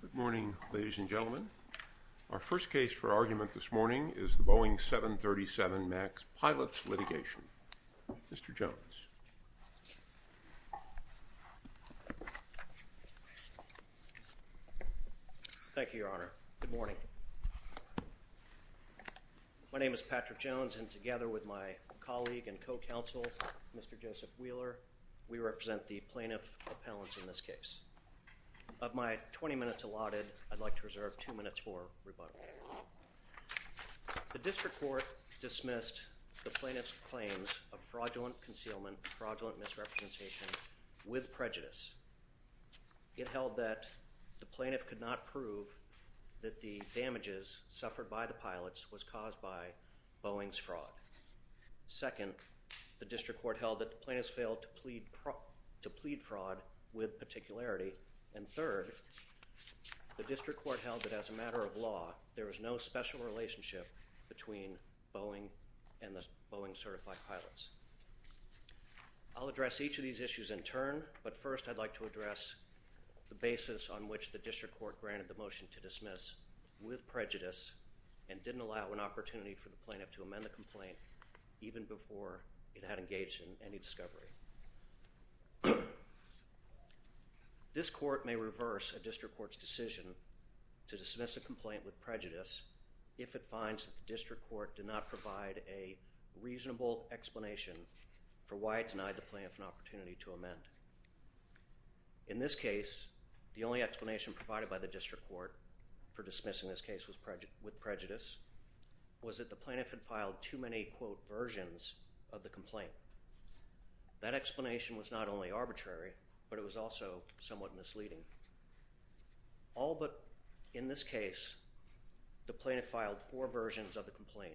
Good morning, ladies and gentlemen. Our first case for argument this morning is the Boeing 737 MAX Pilots litigation. Mr. Jones. Thank you, Your Honor. Good morning. My name is Patrick Jones and together with my colleague and co-counsel, Mr. Joseph Wheeler, we represent the plaintiff appellants in this case. Of my 20 minutes allotted, I'd like to reserve two minutes for rebuttal. The district court dismissed the plaintiff's claims of fraudulent concealment, fraudulent misrepresentation with prejudice. It held that the plaintiff could not prove that the damages suffered by the pilots was caused by Boeing's fraud. Second, the district court held that the plaintiff failed to plead fraud with particularity. And third, the district court held that as a matter of law, there was no special relationship between Boeing and the Boeing certified pilots. I'll address each of these issues in turn, but first I'd like to address the basis on which the district court granted the motion to dismiss with prejudice and didn't allow an opportunity for the plaintiff to amend the complaint even before it had engaged in any discovery. This court may reverse a district court's decision to dismiss a complaint with prejudice if it finds that the district court did not provide a reasonable explanation for why it denied the plaintiff an opportunity to amend. In this case, the only explanation provided by the district court for dismissing this case with prejudice was that the plaintiff had filed too many, quote, versions of the complaint. That explanation was not only arbitrary, but it was also somewhat misleading. All but in this case, the plaintiff filed four versions of the complaint,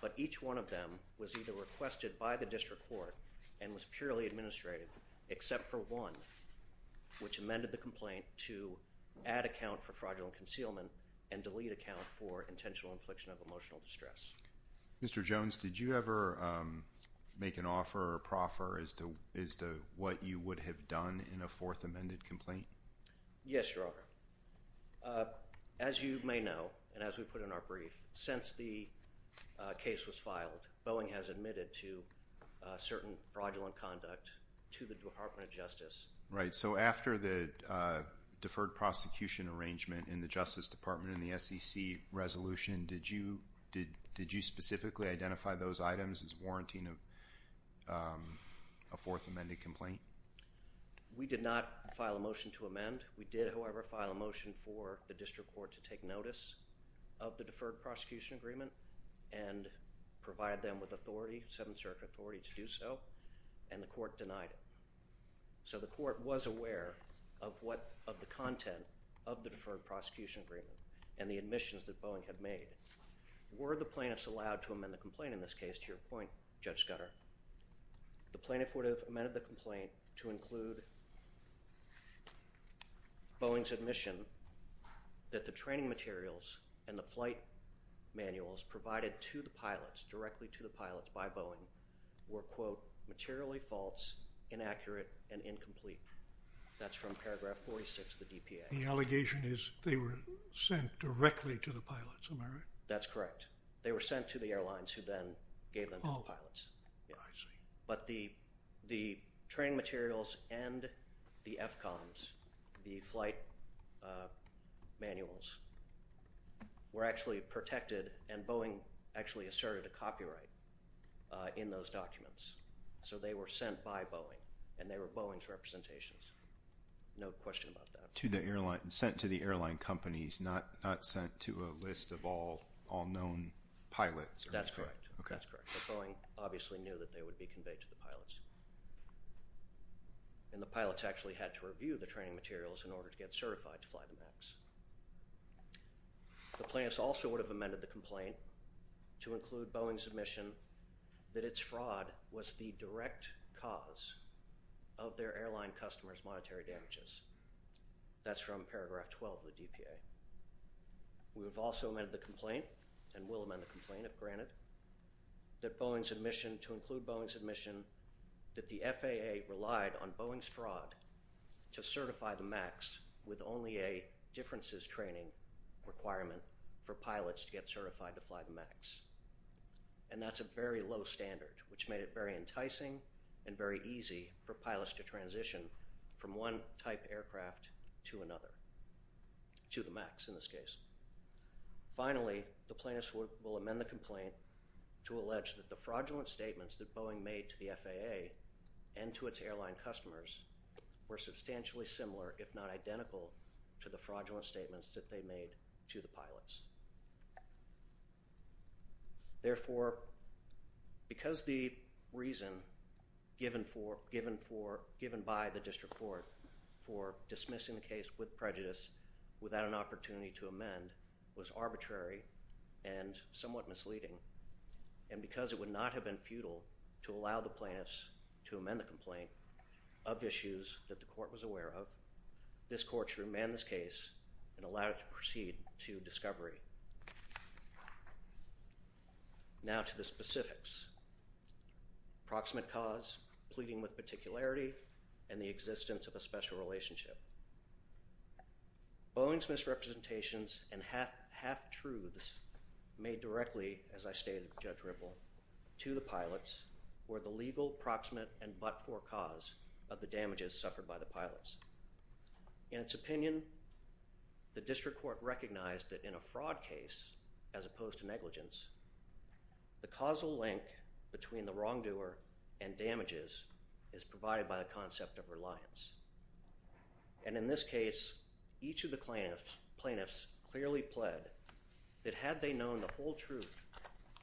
but each one of them was either requested by the district court and was purely administrative, except for one, which amended the complaint to add account for fraudulent concealment and delete account for intentional infliction of emotional distress. Mr. Jones, did you ever make an offer or proffer as to what you would have done in a fourth amended complaint? Yes, Your Honor. As you may know, and as we put in our brief, since the case was filed, Boeing has admitted to certain fraudulent conduct to the Department of Justice. Right, so after the deferred prosecution arrangement in the Justice Department in the SEC resolution, did you specifically identify those items as warranting a fourth amended complaint? We did not file a motion to amend. We did, however, file a motion for the district court to take notice of the deferred prosecution agreement and provide them with authority, seventh circuit authority, to do so, and the court denied it. So the court was aware of the content of the deferred prosecution agreement and the admissions that Boeing had made. Were the plaintiffs allowed to amend the complaint in this case, to your point, Judge Scudder? The plaintiff would have amended the complaint to include Boeing's admission that the training materials and the flight manuals provided to the pilots, directly to the pilots by Boeing, were, quote, materially false, inaccurate, and incomplete. That's from paragraph 46 of the DPA. The allegation is they were sent directly to the pilots, am I right? That's correct. They were sent to the airlines who then gave them to the pilots. I see. But the training materials and the FCONs, the flight manuals, were actually protected, and Boeing actually asserted a copyright in those documents. So they were sent by Boeing, and they were Boeing's representations. No question about that. Sent to the airline companies, not sent to a list of all known pilots. That's correct. That's correct. But Boeing obviously knew that they would be conveyed to the pilots. And the pilots actually had to review the training materials in order to get certified to fly the MAX. The plaintiffs also would have amended the complaint to include Boeing's admission that its fraud was the direct cause of their airline customers' monetary damages. That's from paragraph 12 of the DPA. We have also amended the complaint, and will amend the complaint if granted, to include Boeing's admission that the FAA relied on Boeing's fraud to certify the MAX with only a differences training requirement for pilots to get certified to fly the MAX. And that's a very low standard, which made it very enticing and very easy for pilots to transition from one type aircraft to another, to the MAX in this case. Finally, the plaintiffs will amend the complaint to allege that the fraudulent statements that Boeing made to the FAA and to its airline customers were substantially similar, if not identical, to the fraudulent statements that they made to the pilots. Therefore, because the reason given by the district court for dismissing the case with prejudice without an opportunity to amend was arbitrary and somewhat misleading, and because it would not have been futile to allow the plaintiffs to amend the complaint of issues that the court was aware of, this court should remand this case and allow it to proceed to discovery. Now to the specifics. Approximate cause, pleading with particularity, and the existence of a special relationship. Boeing's misrepresentations and half-truths made directly, as I stated to Judge Ripple, to the pilots were the legal proximate and but-for cause of the damages suffered by the pilots. In its opinion, the district court recognized that in a fraud case, as opposed to negligence, the causal link between the wrongdoer and damages is provided by the concept of reliance. And in this case, each of the plaintiffs clearly pled that had they known the whole truth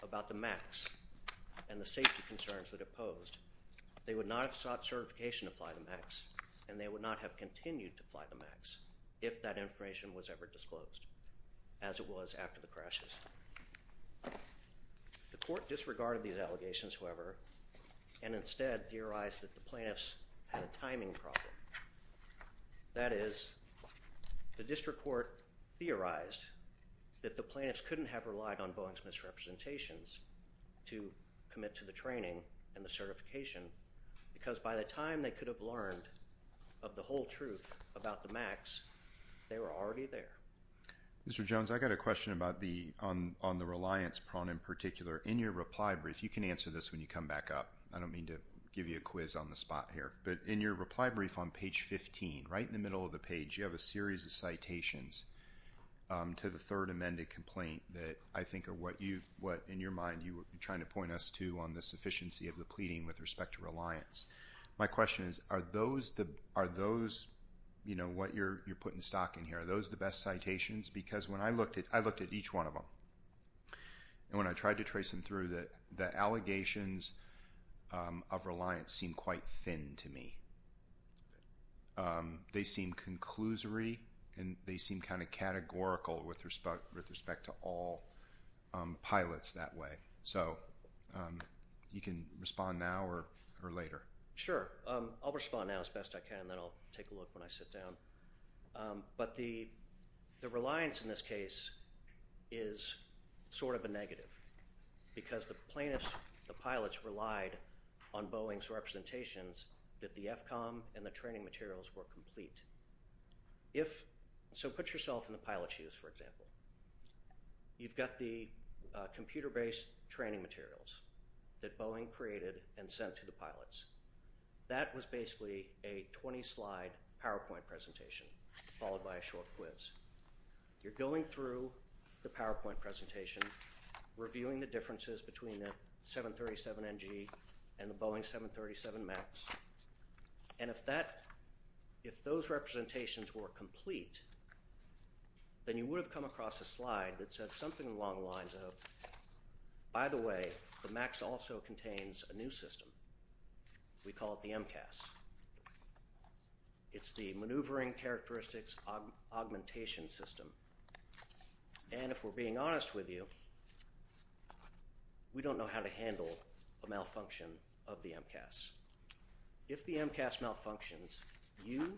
about the MAX and the safety concerns that it posed, they would not have sought certification to fly the MAX and they would not have continued to fly the MAX if that information was ever disclosed, as it was after the crashes. The court disregarded these allegations, however, and instead theorized that the plaintiffs had a timing problem. That is, the district court theorized that the plaintiffs couldn't have relied on Boeing's misrepresentations to commit to the training and the certification because by the time they could have learned of the whole truth about the MAX, they were already there. Mr. Jones, I've got a question on the reliance prong in particular. In your reply brief, you can answer this when you come back up. I don't mean to give you a quiz on the spot here, but in your reply brief on page 15, right in the middle of the page, you have a series of citations to the third amended complaint that I think are what, in your mind, you were trying to point us to on the sufficiency of the pleading with respect to reliance. My question is, are those what you're putting stock in here? Are those the best citations? I looked at each one of them, and when I tried to trace them through, the allegations of reliance seem quite thin to me. They seem conclusory, and they seem kind of categorical with respect to all pilots that way. So, you can respond now or later. Sure. I'll respond now as best I can, and then I'll take a look when I sit down. But the reliance in this case is sort of a negative, because the plaintiffs, the pilots, relied on Boeing's representations that the FCOM and the training materials were complete. So, put yourself in the pilot's shoes, for example. You've got the computer-based training materials that Boeing created and sent to the pilots. That was basically a 20-slide PowerPoint presentation, followed by a short quiz. You're going through the PowerPoint presentation, reviewing the differences between the 737NG and the Boeing 737MAX, and if those representations were complete, then you would have come across a slide that said something along the lines of, By the way, the MAX also contains a new system. We call it the MCAS. It's the Maneuvering Characteristics Augmentation System. And if we're being honest with you, we don't know how to handle a malfunction of the MCAS. If the MCAS malfunctions, you,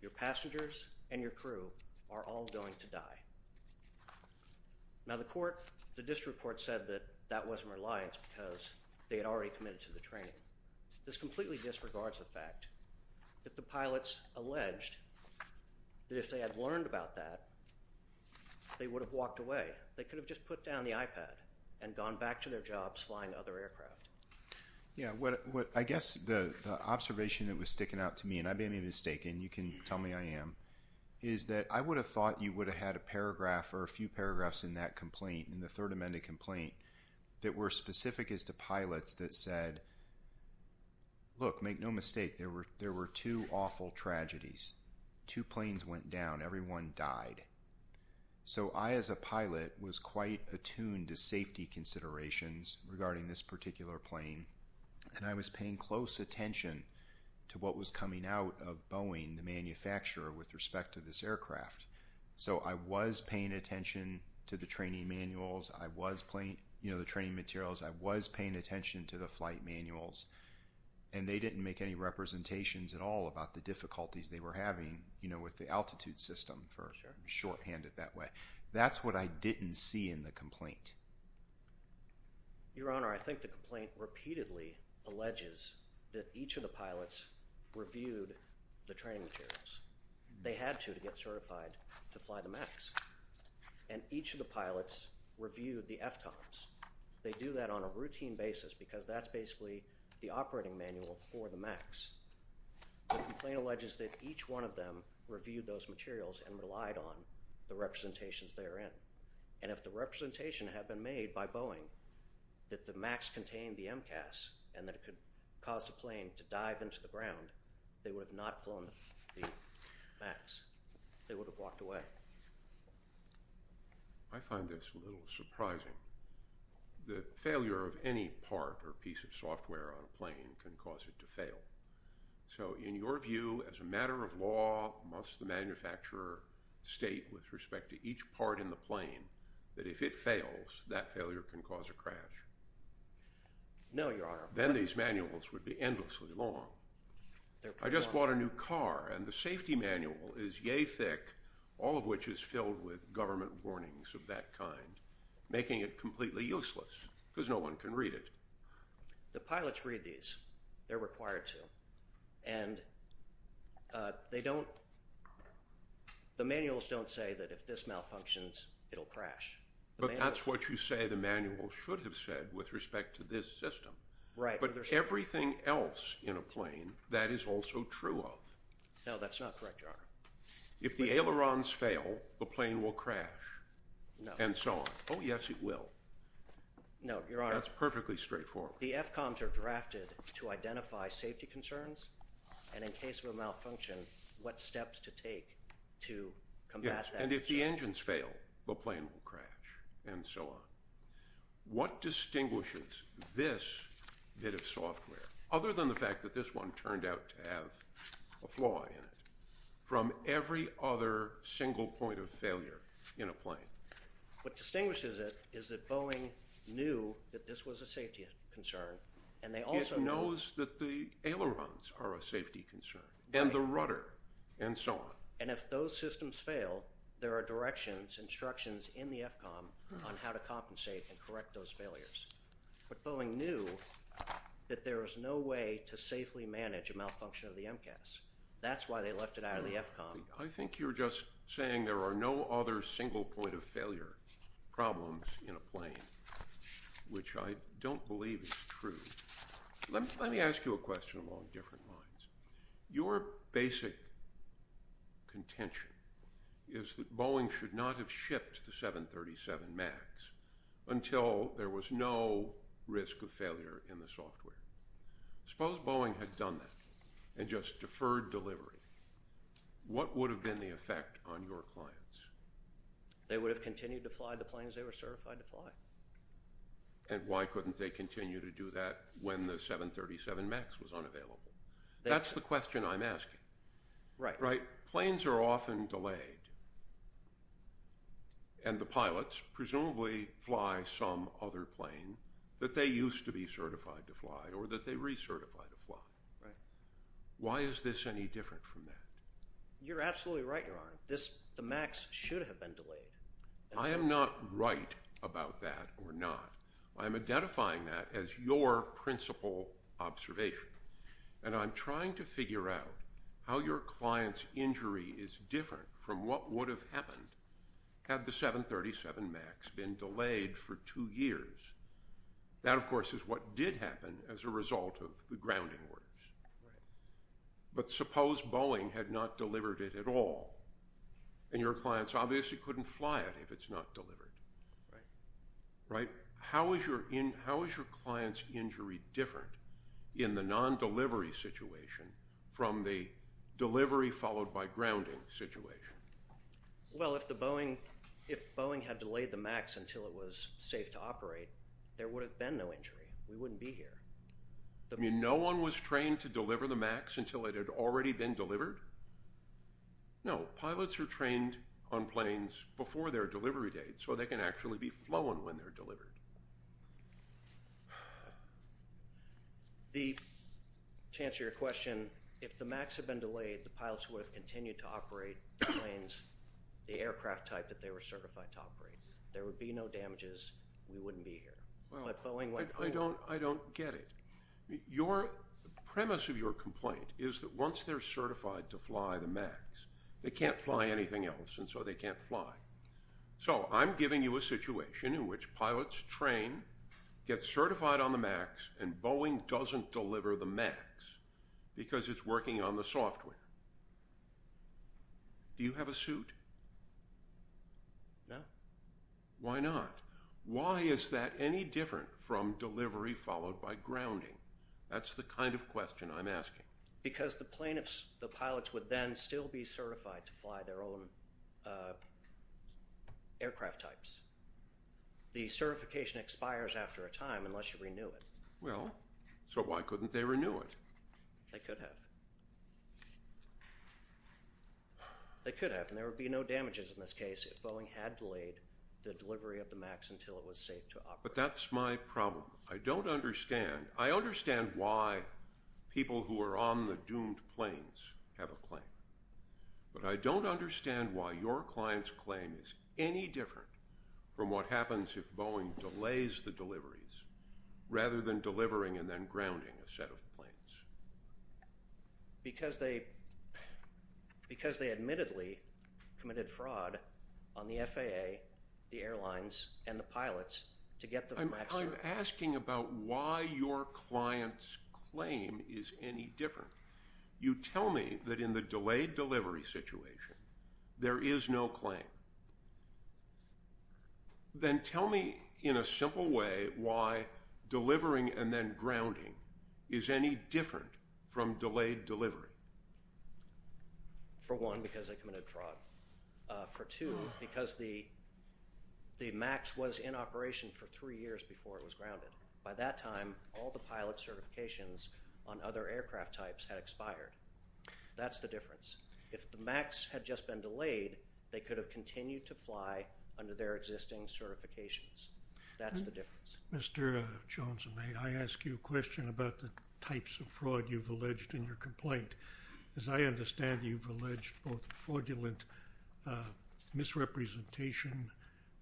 your passengers, and your crew are all going to die. Now, the court, the district court, said that that wasn't reliance because they had already committed to the training. This completely disregards the fact that the pilots alleged that if they had learned about that, they would have walked away. They could have just put down the iPad and gone back to their jobs flying other aircraft. Yeah, I guess the observation that was sticking out to me, and I may be mistaken, you can tell me I am, is that I would have thought you would have had a paragraph or a few paragraphs in that complaint, in the Third Amendment complaint, that were specific as to pilots that said, Look, make no mistake. There were two awful tragedies. Two planes went down. Everyone died. So I, as a pilot, was quite attuned to safety considerations regarding this particular plane. And I was paying close attention to what was coming out of Boeing, the manufacturer, with respect to this aircraft. So I was paying attention to the training manuals. I was playing, you know, the training materials. I was paying attention to the flight manuals. And they didn't make any representations at all about the difficulties they were having, you know, with the altitude system. Sure. To shorthand it that way. That's what I didn't see in the complaint. Your Honor, I think the complaint repeatedly alleges that each of the pilots reviewed the training materials. They had to to get certified to fly the MAX. And each of the pilots reviewed the FCOMs. They do that on a routine basis because that's basically the operating manual for the MAX. The complaint alleges that each one of them reviewed those materials and relied on the representations they were in. And if the representation had been made by Boeing that the MAX contained the MCAS and that it could cause the plane to dive into the ground, they would have not flown the MAX. They would have walked away. I find this a little surprising. The failure of any part or piece of software on a plane can cause it to fail. So in your view, as a matter of law, must the manufacturer state with respect to each part in the plane that if it fails, that failure can cause a crash? No, Your Honor. Then these manuals would be endlessly long. I just bought a new car, and the safety manual is yea thick, all of which is filled with government warnings of that kind, making it completely useless because no one can read it. The pilots read these. They're required to. And they don't – the manuals don't say that if this malfunctions, it'll crash. But that's what you say the manual should have said with respect to this system. Right. But everything else in a plane, that is also true of. No, that's not correct, Your Honor. If the ailerons fail, the plane will crash and so on. Oh, yes, it will. No, Your Honor. That's perfectly straightforward. The FCOMs are drafted to identify safety concerns, and in case of a malfunction, what steps to take to combat that. Yes, and if the engines fail, the plane will crash and so on. What distinguishes this bit of software, other than the fact that this one turned out to have a flaw in it, from every other single point of failure in a plane? What distinguishes it is that Boeing knew that this was a safety concern, and they also – It knows that the ailerons are a safety concern and the rudder and so on. And if those systems fail, there are directions, instructions in the FCOM on how to compensate and correct those failures. But Boeing knew that there was no way to safely manage a malfunction of the MCAS. That's why they left it out of the FCOM. I think you're just saying there are no other single point of failure problems in a plane, which I don't believe is true. Let me ask you a question along different lines. Your basic contention is that Boeing should not have shipped the 737 MAX until there was no risk of failure in the software. Suppose Boeing had done that and just deferred delivery. What would have been the effect on your clients? They would have continued to fly the planes they were certified to fly. And why couldn't they continue to do that when the 737 MAX was unavailable? That's the question I'm asking. Right. Planes are often delayed, and the pilots presumably fly some other plane that they used to be certified to fly or that they recertified to fly. Why is this any different from that? You're absolutely right, Your Honor. The MAX should have been delayed. I am not right about that or not. I'm identifying that as your principal observation. And I'm trying to figure out how your client's injury is different from what would have happened had the 737 MAX been delayed for two years. That, of course, is what did happen as a result of the grounding orders. But suppose Boeing had not delivered it at all, and your clients obviously couldn't fly it if it's not delivered. Right? How is your client's injury different in the non-delivery situation from the delivery followed by grounding situation? Well, if Boeing had delayed the MAX until it was safe to operate, there would have been no injury. We wouldn't be here. You mean no one was trained to deliver the MAX until it had already been delivered? No. Pilots are trained on planes before their delivery date, so they can actually be flown when they're delivered. To answer your question, if the MAX had been delayed, the pilots would have continued to operate the planes, the aircraft type that they were certified to operate. There would be no damages. We wouldn't be here. Well, I don't get it. The premise of your complaint is that once they're certified to fly the MAX, they can't fly anything else, and so they can't fly. So I'm giving you a situation in which pilots train, get certified on the MAX, and Boeing doesn't deliver the MAX because it's working on the software. Do you have a suit? No. Why not? Why is that any different from delivery followed by grounding? That's the kind of question I'm asking. Because the pilots would then still be certified to fly their own aircraft types. The certification expires after a time unless you renew it. Well, so why couldn't they renew it? They could have. They could have, and there would be no damages in this case if Boeing had delayed the delivery of the MAX until it was safe to operate. But that's my problem. I don't understand. I understand why people who are on the doomed planes have a claim, but I don't understand why your client's claim is any different from what happens if Boeing delays the deliveries rather than delivering and then grounding a set of planes. Because they admittedly committed fraud on the FAA, the airlines, and the pilots to get the MAX certified. I'm asking about why your client's claim is any different. You tell me that in the delayed delivery situation there is no claim. Then tell me in a simple way why delivering and then grounding is any different from delayed delivery. For one, because they committed fraud. For two, because the MAX was in operation for three years before it was grounded. By that time, all the pilot certifications on other aircraft types had expired. That's the difference. If the MAX had just been delayed, they could have continued to fly under their existing certifications. That's the difference. Mr. Jones, may I ask you a question about the types of fraud you've alleged in your complaint? As I understand, you've alleged both fraudulent misrepresentation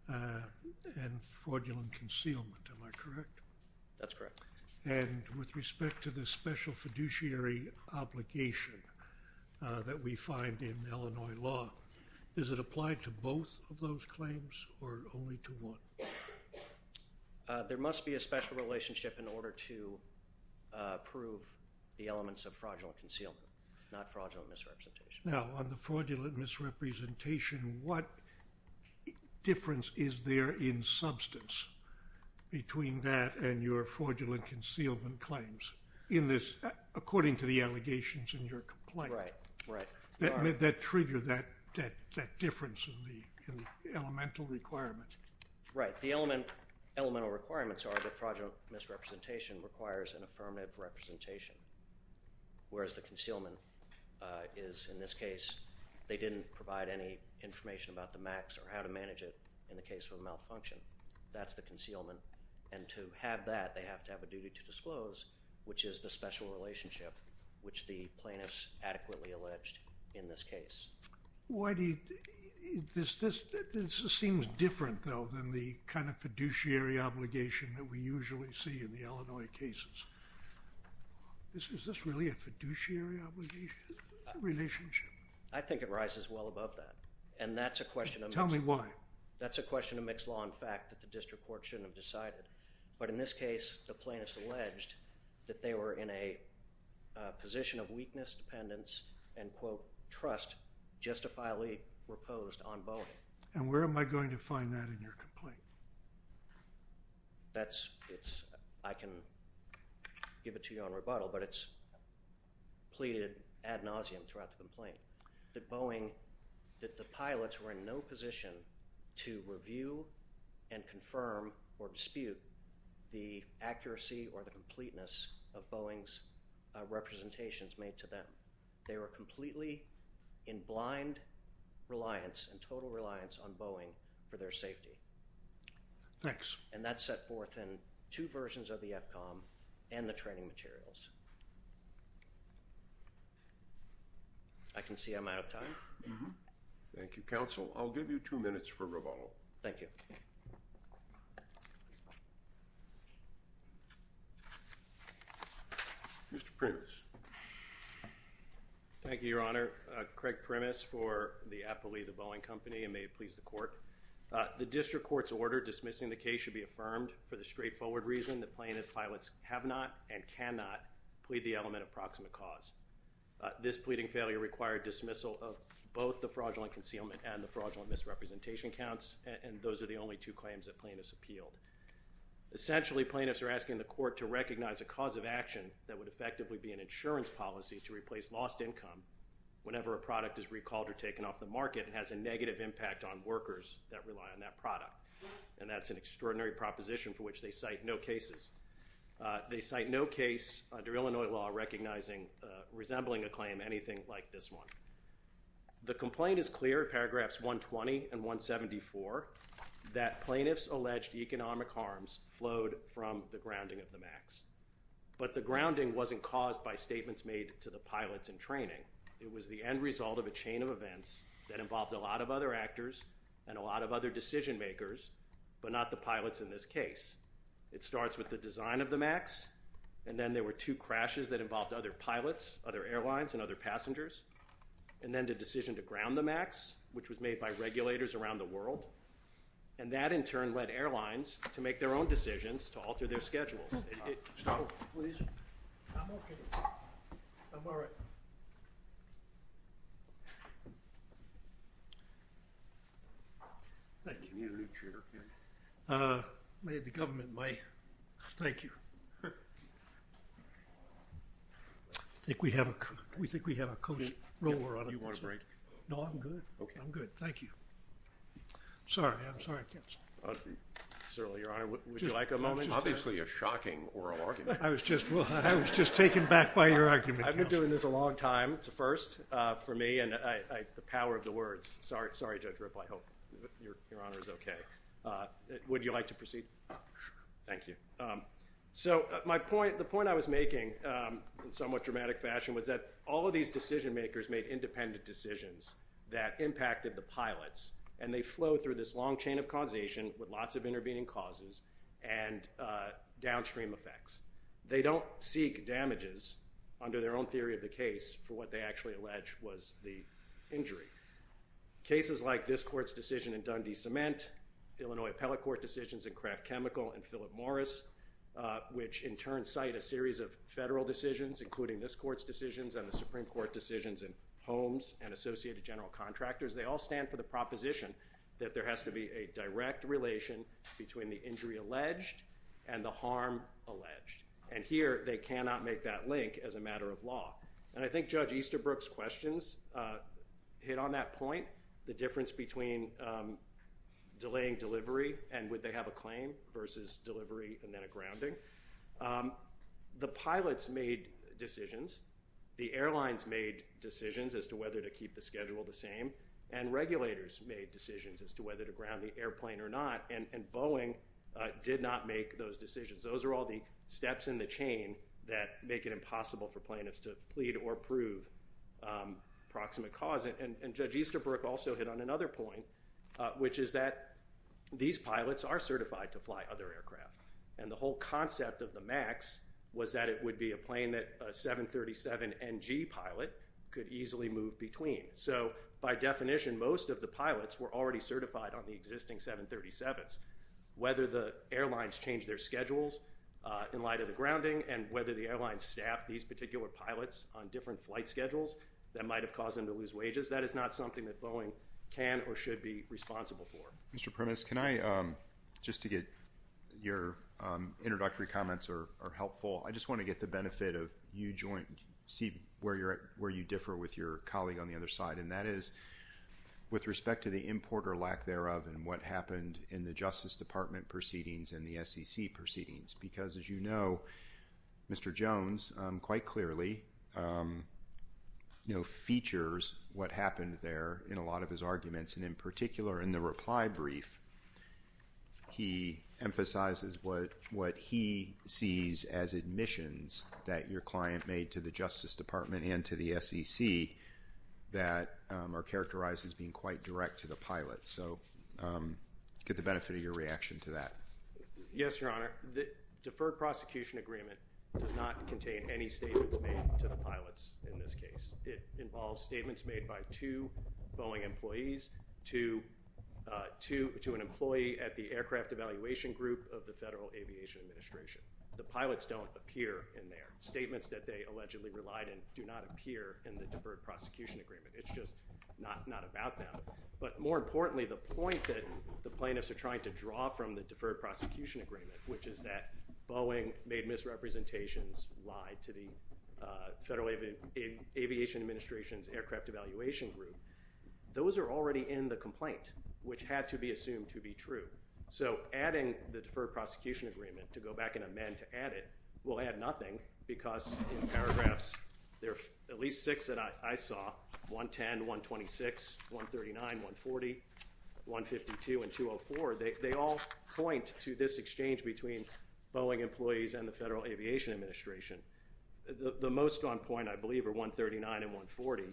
and fraudulent concealment. Am I correct? That's correct. With respect to the special fiduciary obligation that we find in Illinois law, is it applied to both of those claims or only to one? There must be a special relationship in order to prove the elements of fraudulent concealment, not fraudulent misrepresentation. Now, on the fraudulent misrepresentation, what difference is there in substance between that and your fraudulent concealment claims in this, according to the allegations in your complaint? Right, right. That triggered that difference in the elemental requirements. Right. The elemental requirements are that fraudulent misrepresentation requires an affirmative representation, whereas the concealment is, in this case, they didn't provide any information about the MACs or how to manage it in the case of a malfunction. That's the concealment. And to have that, they have to have a duty to disclose, which is the special relationship, which the plaintiffs adequately alleged in this case. This seems different, though, than the kind of fiduciary obligation that we usually see in the Illinois cases. Is this really a fiduciary obligation relationship? I think it rises well above that, and that's a question of mixed law. Tell me why. That's a question of mixed law, in fact, that the district court shouldn't have decided. But in this case, the plaintiffs alleged that they were in a position of weakness, dependence, and, quote, trust, justifiably reposed on Boeing. And where am I going to find that in your complaint? That's, it's, I can give it to you on rebuttal, but it's pleaded ad nauseum throughout the complaint. That Boeing, that the pilots were in no position to review and confirm or dispute the accuracy or the completeness of Boeing's representations made to them. They were completely in blind reliance and total reliance on Boeing for their safety. Thanks. And that's set forth in two versions of the FCOM and the training materials. I can see I'm out of time. Thank you, Counsel. I'll give you two minutes for rebuttal. Thank you. Mr. Primus. Thank you, Your Honor. Craig Primus for the appellee of the Boeing Company, and may it please the court. The district court's order dismissing the case should be affirmed for the straightforward reason that plaintiff pilots have not and cannot plead the element of proximate cause. This pleading failure required dismissal of both the fraudulent concealment and the fraudulent misrepresentation counts, and those are the only two claims that plaintiffs appealed. Essentially, plaintiffs are asking the court to recognize a cause of action that would effectively be an insurance policy to replace lost income whenever a product is recalled or taken off the market and has a negative impact on workers that rely on that product. And that's an extraordinary proposition for which they cite no cases. They cite no case under Illinois law recognizing resembling a claim anything like this one. The complaint is clear, paragraphs 120 and 174, that plaintiffs' alleged economic harms flowed from the grounding of the MAX. But the grounding wasn't caused by statements made to the pilots in training. It was the end result of a chain of events that involved a lot of other actors and a lot of other decision makers, but not the pilots in this case. It starts with the design of the MAX, and then there were two crashes that involved other pilots, other airlines, and other passengers, and then the decision to ground the MAX, which was made by regulators around the world. And that, in turn, led airlines to make their own decisions to alter their schedules. Stop. Please. I'm OK. I'm all right. Thank you. You need a new chair. May the government may. Thank you. I think we have a coast roller on it. Do you want a break? No, I'm good. I'm good. Thank you. Sorry. I'm sorry, counsel. Certainly, Your Honor. Would you like a moment? This is obviously a shocking oral argument. I was just taken back by your argument, counsel. I've been doing this a long time. It's a first for me, and the power of the words. Sorry, Judge Ripple. I hope Your Honor is OK. Would you like to proceed? Sure. Thank you. So the point I was making, in somewhat dramatic fashion, was that all of these decision makers made independent decisions that impacted the pilots. And they flow through this long chain of causation with lots of intervening causes and downstream effects. They don't seek damages under their own theory of the case for what they actually allege was the injury. Cases like this court's decision in Dundee Cement, Illinois Appellate Court decisions in Kraft Chemical and Philip Morris, which in turn cite a series of federal decisions, including this court's decisions and the Supreme Court decisions in Holmes and Associated General Contractors, they all stand for the proposition that there has to be a direct relation between the injury alleged and the harm alleged. And here they cannot make that link as a matter of law. And I think Judge Easterbrook's questions hit on that point, the difference between delaying delivery and would they have a claim versus delivery and then a grounding. The pilots made decisions. The airlines made decisions as to whether to keep the schedule the same. And regulators made decisions as to whether to ground the airplane or not. And Boeing did not make those decisions. Those are all the steps in the chain that make it impossible for plaintiffs to plead or prove proximate cause. And Judge Easterbrook also hit on another point, which is that these pilots are certified to fly other aircraft. And the whole concept of the MAX was that it would be a plane that a 737NG pilot could easily move between. So by definition, most of the pilots were already certified on the existing 737s. Whether the airlines changed their schedules in light of the grounding and whether the airlines staffed these particular pilots on different flight schedules, that might have caused them to lose wages. That is not something that Boeing can or should be responsible for. Mr. Primus, can I just to get your introductory comments are helpful. I just want to get the benefit of you see where you differ with your colleague on the other side. And that is with respect to the importer lack thereof and what happened in the Justice Department proceedings and the SEC proceedings. Because as you know, Mr. Jones quite clearly features what happened there in a lot of his arguments. And in particular, in the reply brief, he emphasizes what he sees as admissions that your client made to the Justice Department and to the SEC that are characterized as being quite direct to the pilots. So I'll get the benefit of your reaction to that. Yes, Your Honor. The deferred prosecution agreement does not contain any statements made to the pilots in this case. It involves statements made by two Boeing employees to an employee at the aircraft evaluation group of the Federal Aviation Administration. The pilots don't appear in their statements that they allegedly relied and do not appear in the deferred prosecution agreement. It's just not about them. But more importantly, the point that the plaintiffs are trying to draw from the deferred prosecution agreement, which is that Boeing made misrepresentations lie to the Federal Aviation Administration's aircraft evaluation group, those are already in the complaint, which had to be assumed to be true. So adding the deferred prosecution agreement to go back and amend to add it will add nothing, because in paragraphs there are at least six that I saw, 110, 126, 139, 140, 152, and 204. They all point to this exchange between Boeing employees and the Federal Aviation Administration. The most on point, I believe, are 139 and 140,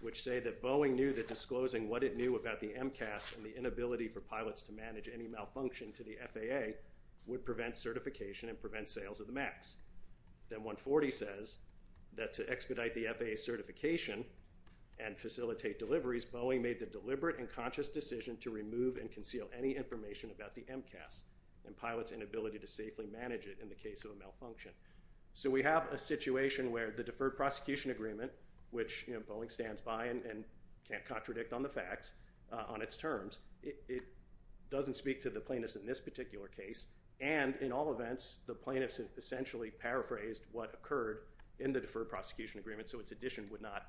which say that Boeing knew that disclosing what it knew about the MCAS and the inability for pilots to manage any malfunction to the FAA would prevent certification and prevent sales of the MAX. Then 140 says that to expedite the FAA certification and facilitate deliveries, Boeing made the deliberate and conscious decision to remove and conceal any information about the MCAS and pilots' inability to safely manage it in the case of a malfunction. So we have a situation where the deferred prosecution agreement, which Boeing stands by and can't contradict on the facts on its terms, it doesn't speak to the plaintiffs in this particular case. And in all events, the plaintiffs essentially paraphrased what occurred in the deferred prosecution agreement, so its addition would not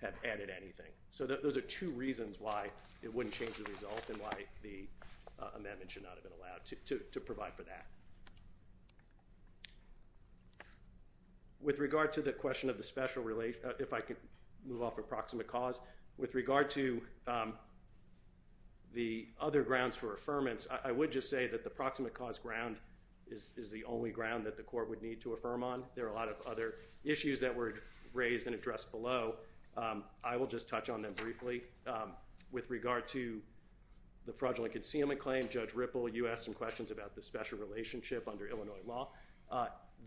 have added anything. So those are two reasons why it wouldn't change the result and why the amendment should not have been allowed to provide for that. With regard to the question of the special relation, if I could move off of proximate cause. With regard to the other grounds for affirmance, I would just say that the proximate cause ground is the only ground that the court would need to affirm on. There are a lot of other issues that were raised and addressed below. So I will just touch on them briefly. With regard to the fraudulent concealment claim, Judge Ripple, you asked some questions about the special relationship under Illinois law.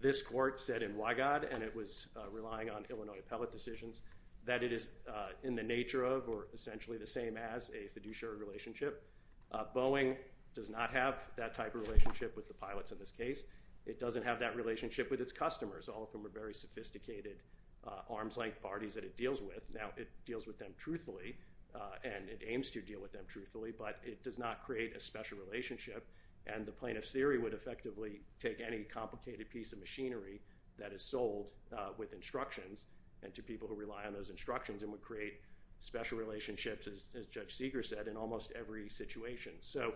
This court said in Wygod, and it was relying on Illinois appellate decisions, that it is in the nature of or essentially the same as a fiduciary relationship. Boeing does not have that type of relationship with the pilots in this case. It doesn't have that relationship with its customers. All of them are very sophisticated arms-length parties that it deals with. Now, it deals with them truthfully, and it aims to deal with them truthfully, but it does not create a special relationship, and the plaintiff's theory would effectively take any complicated piece of machinery that is sold with instructions and to people who rely on those instructions and would create special relationships, as Judge Seeger said, in almost every situation. So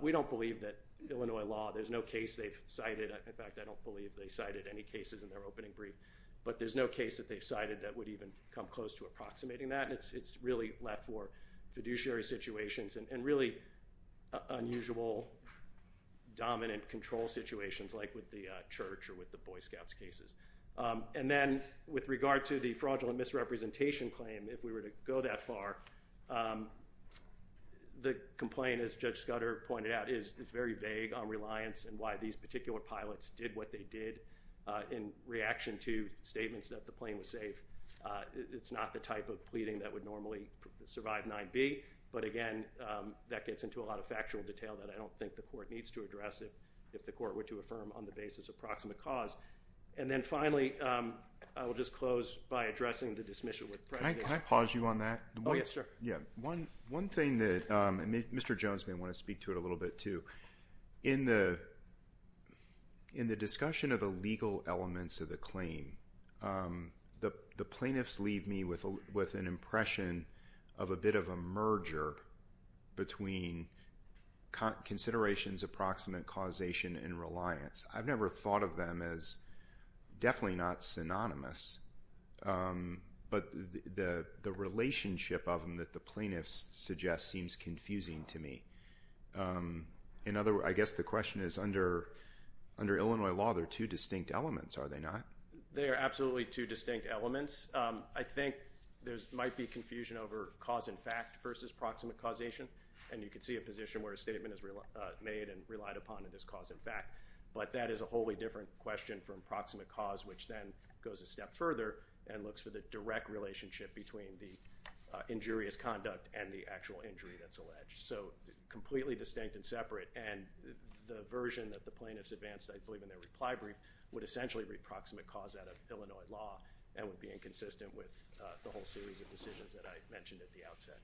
we don't believe that Illinois law, there's no case they've cited. In fact, I don't believe they cited any cases in their opening brief, but there's no case that they've cited that would even come close to approximating that. It's really left for fiduciary situations and really unusual dominant control situations like with the Church or with the Boy Scouts cases. Then with regard to the fraudulent misrepresentation claim, if we were to go that far, the complaint, as Judge Scudder pointed out, is very vague on reliance and why these particular pilots did what they did in reaction to statements that the plane was safe. It's not the type of pleading that would normally survive 9B, but, again, that gets into a lot of factual detail that I don't think the court needs to address if the court were to affirm on the basis of proximate cause. And then finally, I will just close by addressing the dismissal with prejudice. Can I pause you on that? Oh, yes, sure. One thing that Mr. Jones may want to speak to it a little bit too, in the discussion of the legal elements of the claim, the plaintiffs leave me with an impression of a bit of a merger between considerations, approximate causation, and reliance. I've never thought of them as definitely not synonymous, but the relationship of them that the plaintiffs suggest seems confusing to me. I guess the question is, under Illinois law, there are two distinct elements, are there not? There are absolutely two distinct elements. I think there might be confusion over cause and fact versus proximate causation, and you can see a position where a statement is made and relied upon in this cause and fact, but that is a wholly different question from proximate cause, which then goes a step further and looks for the direct relationship between the injurious conduct and the actual injury that's alleged. So completely distinct and separate, and the version that the plaintiffs advanced, I believe in their reply brief, would essentially read proximate cause out of Illinois law and would be inconsistent with the whole series of decisions that I mentioned at the outset.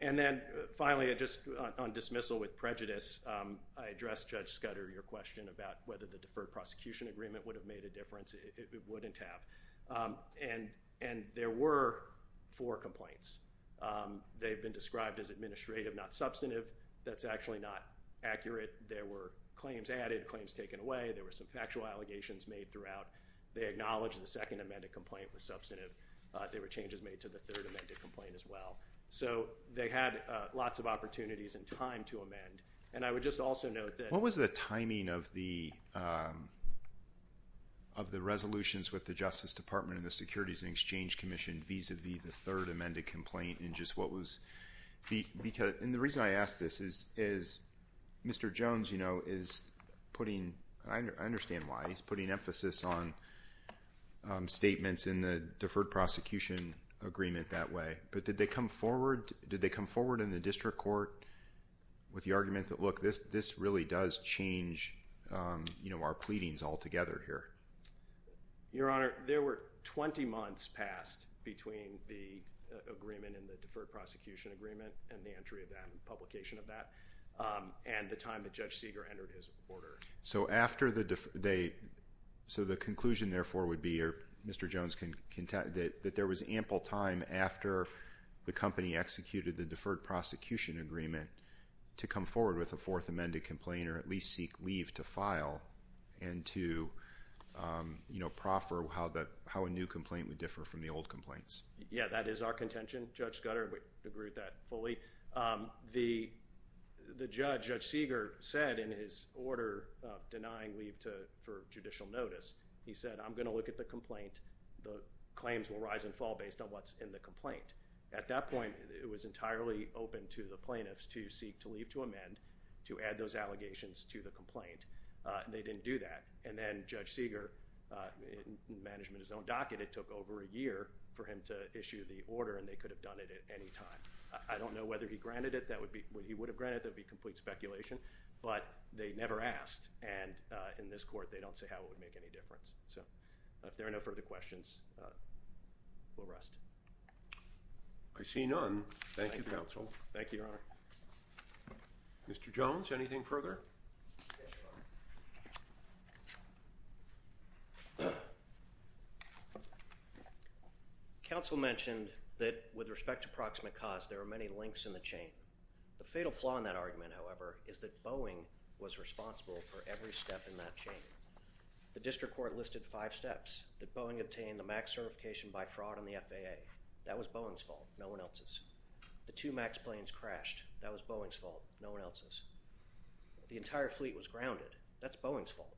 And then finally, just on dismissal with prejudice, I addressed Judge Scudder, your question about whether the deferred prosecution agreement would have made a difference. It wouldn't have. And there were four complaints. They've been described as administrative, not substantive. That's actually not accurate. There were claims added, claims taken away. There were some factual allegations made throughout. They acknowledged the second amended complaint was substantive. There were changes made to the third amended complaint as well. So they had lots of opportunities and time to amend, and I would just also note that... What was the timing of the resolutions with the Justice Department and the Securities and Exchange Commission vis-à-vis the third amended complaint? And just what was... And the reason I ask this is Mr. Jones, you know, is putting... I understand why he's putting emphasis on statements in the deferred prosecution agreement that way, but did they come forward in the district court with the argument that, look, this really does change, you know, our pleadings altogether here? Your Honor, there were 20 months passed between the agreement and the deferred prosecution agreement and the entry of that and publication of that and the time that Judge Seeger entered his order. So after the... So the conclusion, therefore, would be, Mr. Jones, that there was ample time after the company executed the deferred prosecution agreement to come forward with a fourth amended complaint or at least seek leave to file and to, you know, proffer how a new complaint would differ from the old complaints. Yeah, that is our contention. Judge Scudder, we agree with that fully. The judge, Judge Seeger, said in his order denying leave for judicial notice, he said, I'm going to look at the complaint. The claims will rise and fall based on what's in the complaint. At that point, it was entirely open to the plaintiffs to seek to leave to amend, to add those allegations to the complaint, and they didn't do that. And then Judge Seeger, in management of his own docket, it took over a year for him to issue the order, and they could have done it at any time. I don't know whether he granted it. He would have granted it. That would be complete speculation, but they never asked. And in this court, they don't say how it would make any difference. So if there are no further questions, we'll rest. I see none. Thank you, counsel. Thank you, Your Honor. Mr. Jones, anything further? Counsel mentioned that with respect to proximate cause, there are many links in the chain. The fatal flaw in that argument, however, is that Boeing was responsible for every step in that chain. The district court listed five steps. That Boeing obtained the MAX certification by fraud on the FAA. That was Boeing's fault. No one else's. The two MAX planes crashed. That was Boeing's fault. No one else's. The entire fleet was grounded. That's Boeing's fault.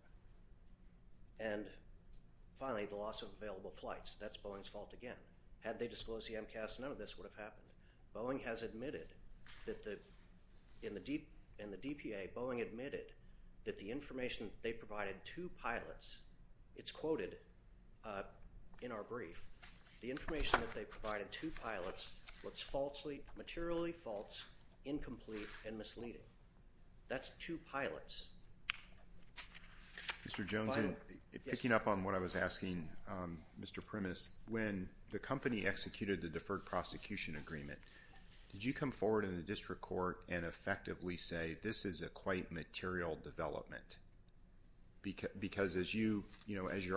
And finally, the loss of available flights. That's Boeing's fault again. Had they disclosed the MCAS, none of this would have happened. Boeing has admitted that in the DPA, Boeing admitted that the information they provided to pilots, it's quoted in our brief, the information that they provided to pilots was falsely, materially false, incomplete, and misleading. That's to pilots. Mr. Jones, picking up on what I was asking, Mr. Primus, when the company executed the deferred prosecution agreement, did you come forward in the district court and effectively say, this is a quite material development? Because as you're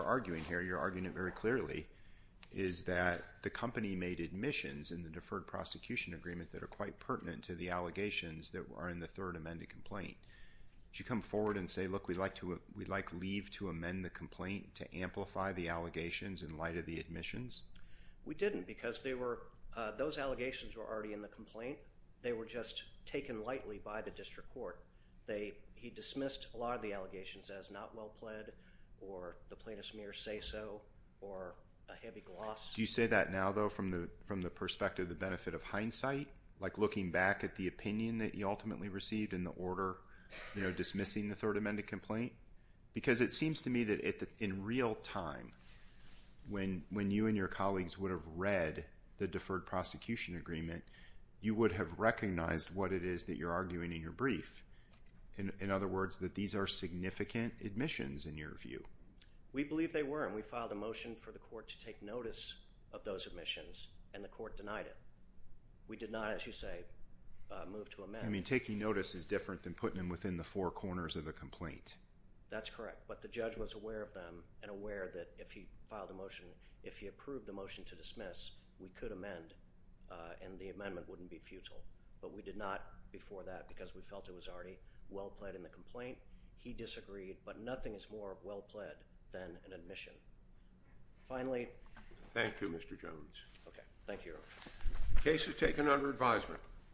arguing here, you're arguing it very clearly, is that the company made admissions in the deferred prosecution agreement that are quite pertinent to the allegations that are in the third amended complaint. Did you come forward and say, look, we'd like leave to amend the complaint to amplify the allegations in light of the admissions? We didn't because those allegations were already in the complaint. They were just taken lightly by the district court. He dismissed a lot of the allegations as not well pled or the plaintiff's mere say-so or a heavy gloss. Do you say that now though from the perspective of the benefit of hindsight, like looking back at the opinion that you ultimately received in the order dismissing the third amended complaint? Because it seems to me that in real time, when you and your colleagues would have read the deferred prosecution agreement, you would have recognized what it is that you're arguing in your brief. In other words, that these are significant admissions in your view. We believe they were, and we filed a motion for the court to take notice of those admissions, and the court denied it. We did not, as you say, move to amend. I mean, taking notice is different than putting them within the four corners of the complaint. That's correct, but the judge was aware of them and aware that if he filed a motion, if he approved the motion to dismiss, we could amend and the amendment wouldn't be futile, but we did not before that because we felt it was already well-pled in the complaint. He disagreed, but nothing is more well-pled than an admission. Finally, thank you, Mr. Jones. Okay. Thank you. Case is taken under advisement.